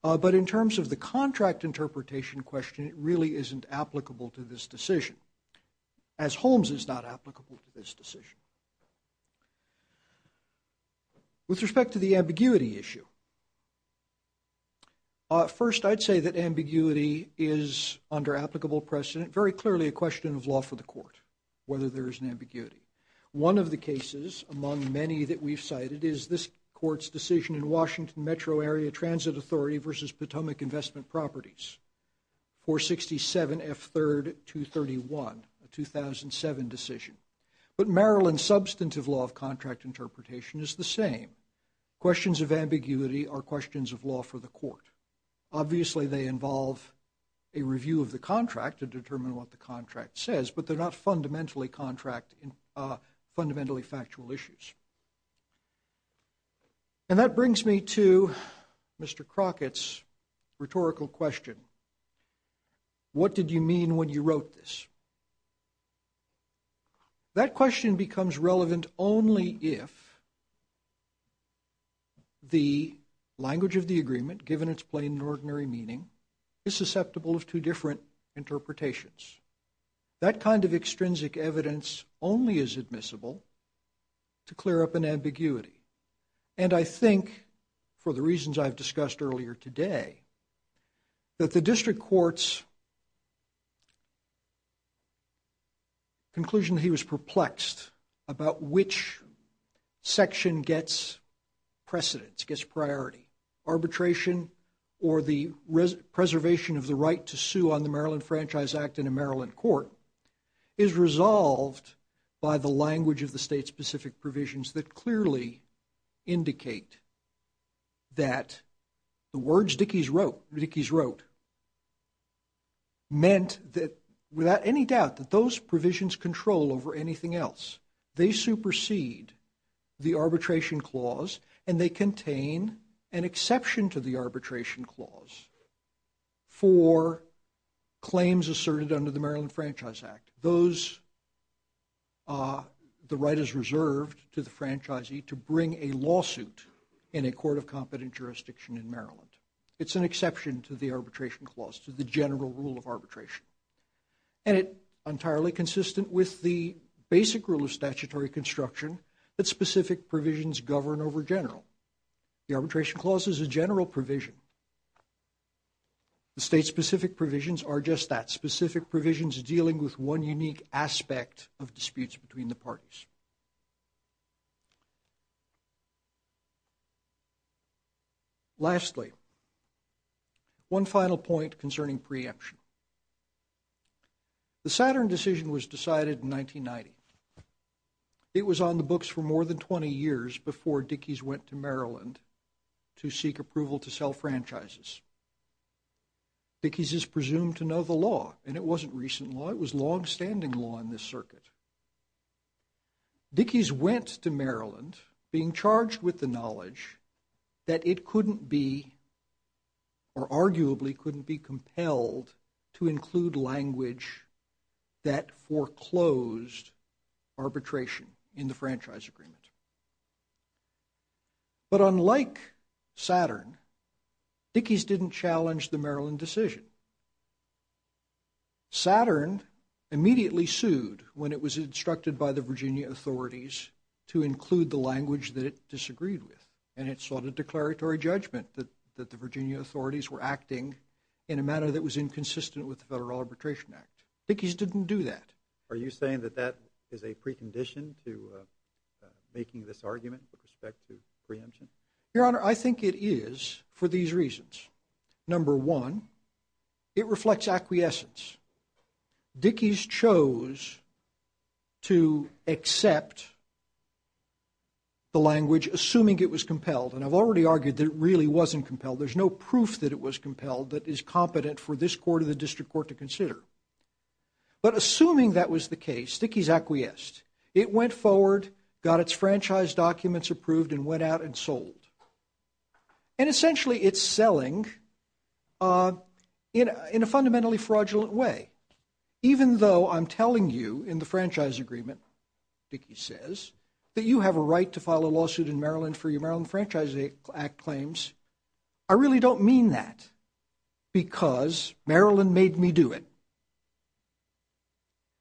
But in terms of the contract interpretation question, it really isn't applicable to this decision, as Holmes is not applicable to this decision. With respect to the ambiguity issue, first, I'd say that ambiguity is under applicable precedent, very clearly a question of law for the court, whether there is an ambiguity. One of the cases among many that we've cited is this court's decision in Washington Metro Area Transit Authority versus Potomac Investment Properties, 467F3-231, a 2007 decision. But Maryland's substantive law of contract interpretation is the same. Questions of ambiguity are questions of law for the court. Obviously, they involve a review of the contract to determine what the contract says, but they're not fundamentally contract, fundamentally factual issues. And that brings me to Mr. Crockett's rhetorical question. What did you mean when you wrote this? That question becomes relevant only if the language of the agreement, given its plain and ordinary meaning, is susceptible of two different interpretations. That kind of extrinsic evidence only is admissible to clear up an ambiguity. And I think, for the reasons I've discussed earlier today, that the district court's conclusion that he was perplexed about which section gets precedence, gets priority, arbitration or the preservation of the right to sue on the Maryland Franchise Act in a Maryland court, is resolved by the language of the state-specific provisions that clearly indicate that the words Dickey's wrote meant that, without any doubt, that those provisions control over anything else. They supersede the arbitration clause and they contain an exception to the arbitration clause for claims asserted under the Maryland Franchise Act. The right is reserved to the franchisee to bring a lawsuit in a court of competent jurisdiction in Maryland. It's an exception to the arbitration clause, to the general rule of arbitration. And it entirely consistent with the basic rule of statutory construction that specific provisions govern over general. The arbitration clause is a general provision. The state-specific provisions are just that, specific provisions dealing with one unique aspect of disputes between the parties. Lastly, one final point concerning preemption. The Saturn decision was decided in 1990. It was on the books for more than 20 years before Dickey's went to Maryland to seek approval to sell franchises. Dickey's is presumed to know the law and it wasn't recent law. It was longstanding law in this circuit. Dickey's went to Maryland being charged with the knowledge that it couldn't be, or arguably couldn't be compelled to include language that foreclosed arbitration in the franchise agreement. But unlike Saturn, Dickey's didn't challenge the Maryland decision. Saturn immediately sued when it was instructed by the Virginia authorities to include the language that it disagreed with. And it sought a declaratory judgment that the Virginia authorities were acting in a manner that was inconsistent with the Federal Arbitration Act. Dickey's didn't do that. Are you saying that that is a precondition to making this argument with respect to preemption? Your Honor, I think it is for these reasons. Number one, it reflects acquiescence. Dickey's chose to accept the language assuming it was compelled. And I've already argued that it really wasn't compelled. There's no proof that it was compelled that is competent for this court or the district court to consider. But assuming that was the case, Dickey's acquiesced. It went forward, got its franchise documents approved and went out and sold. And essentially it's selling in a fundamentally fraudulent way. Even though I'm telling you in the franchise agreement, Dickey says, that you have a right to file a lawsuit in Maryland for your Maryland Franchise Act claims. I really don't mean that because Maryland made me do it.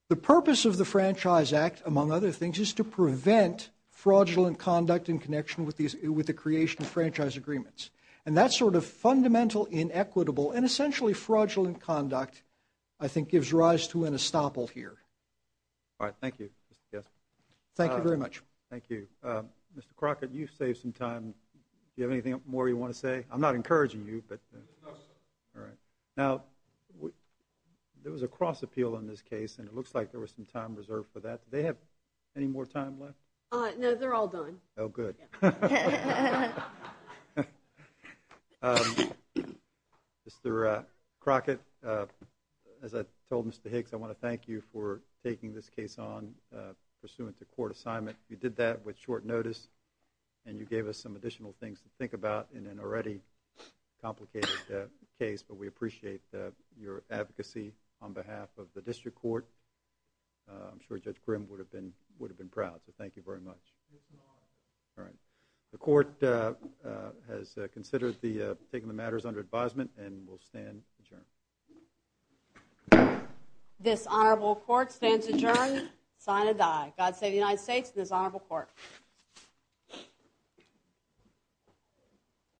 The purpose of the Franchise Act, among other things, is to prevent fraudulent conduct with the creation of franchise agreements. And that sort of fundamental inequitable and essentially fraudulent conduct I think gives rise to an estoppel here. All right, thank you, Mr. Kessler. Thank you very much. Thank you. Mr. Crockett, you've saved some time. Do you have anything more you want to say? I'm not encouraging you, but... All right. Now, there was a cross appeal on this case and it looks like there was some time reserved for that. Do they have any more time left? No, they're all done. Oh, good. Mr. Crockett, as I told Mr. Hicks, I want to thank you for taking this case on pursuant to court assignment. You did that with short notice and you gave us some additional things to think about in an already complicated case, but we appreciate your advocacy on behalf of the district court. I'm sure Judge Grimm would have been proud. So thank you very much. All right. The court has considered taking the matters under advisement and will stand adjourned. This honorable court stands adjourned. Sign and die. God save the United States and this honorable court.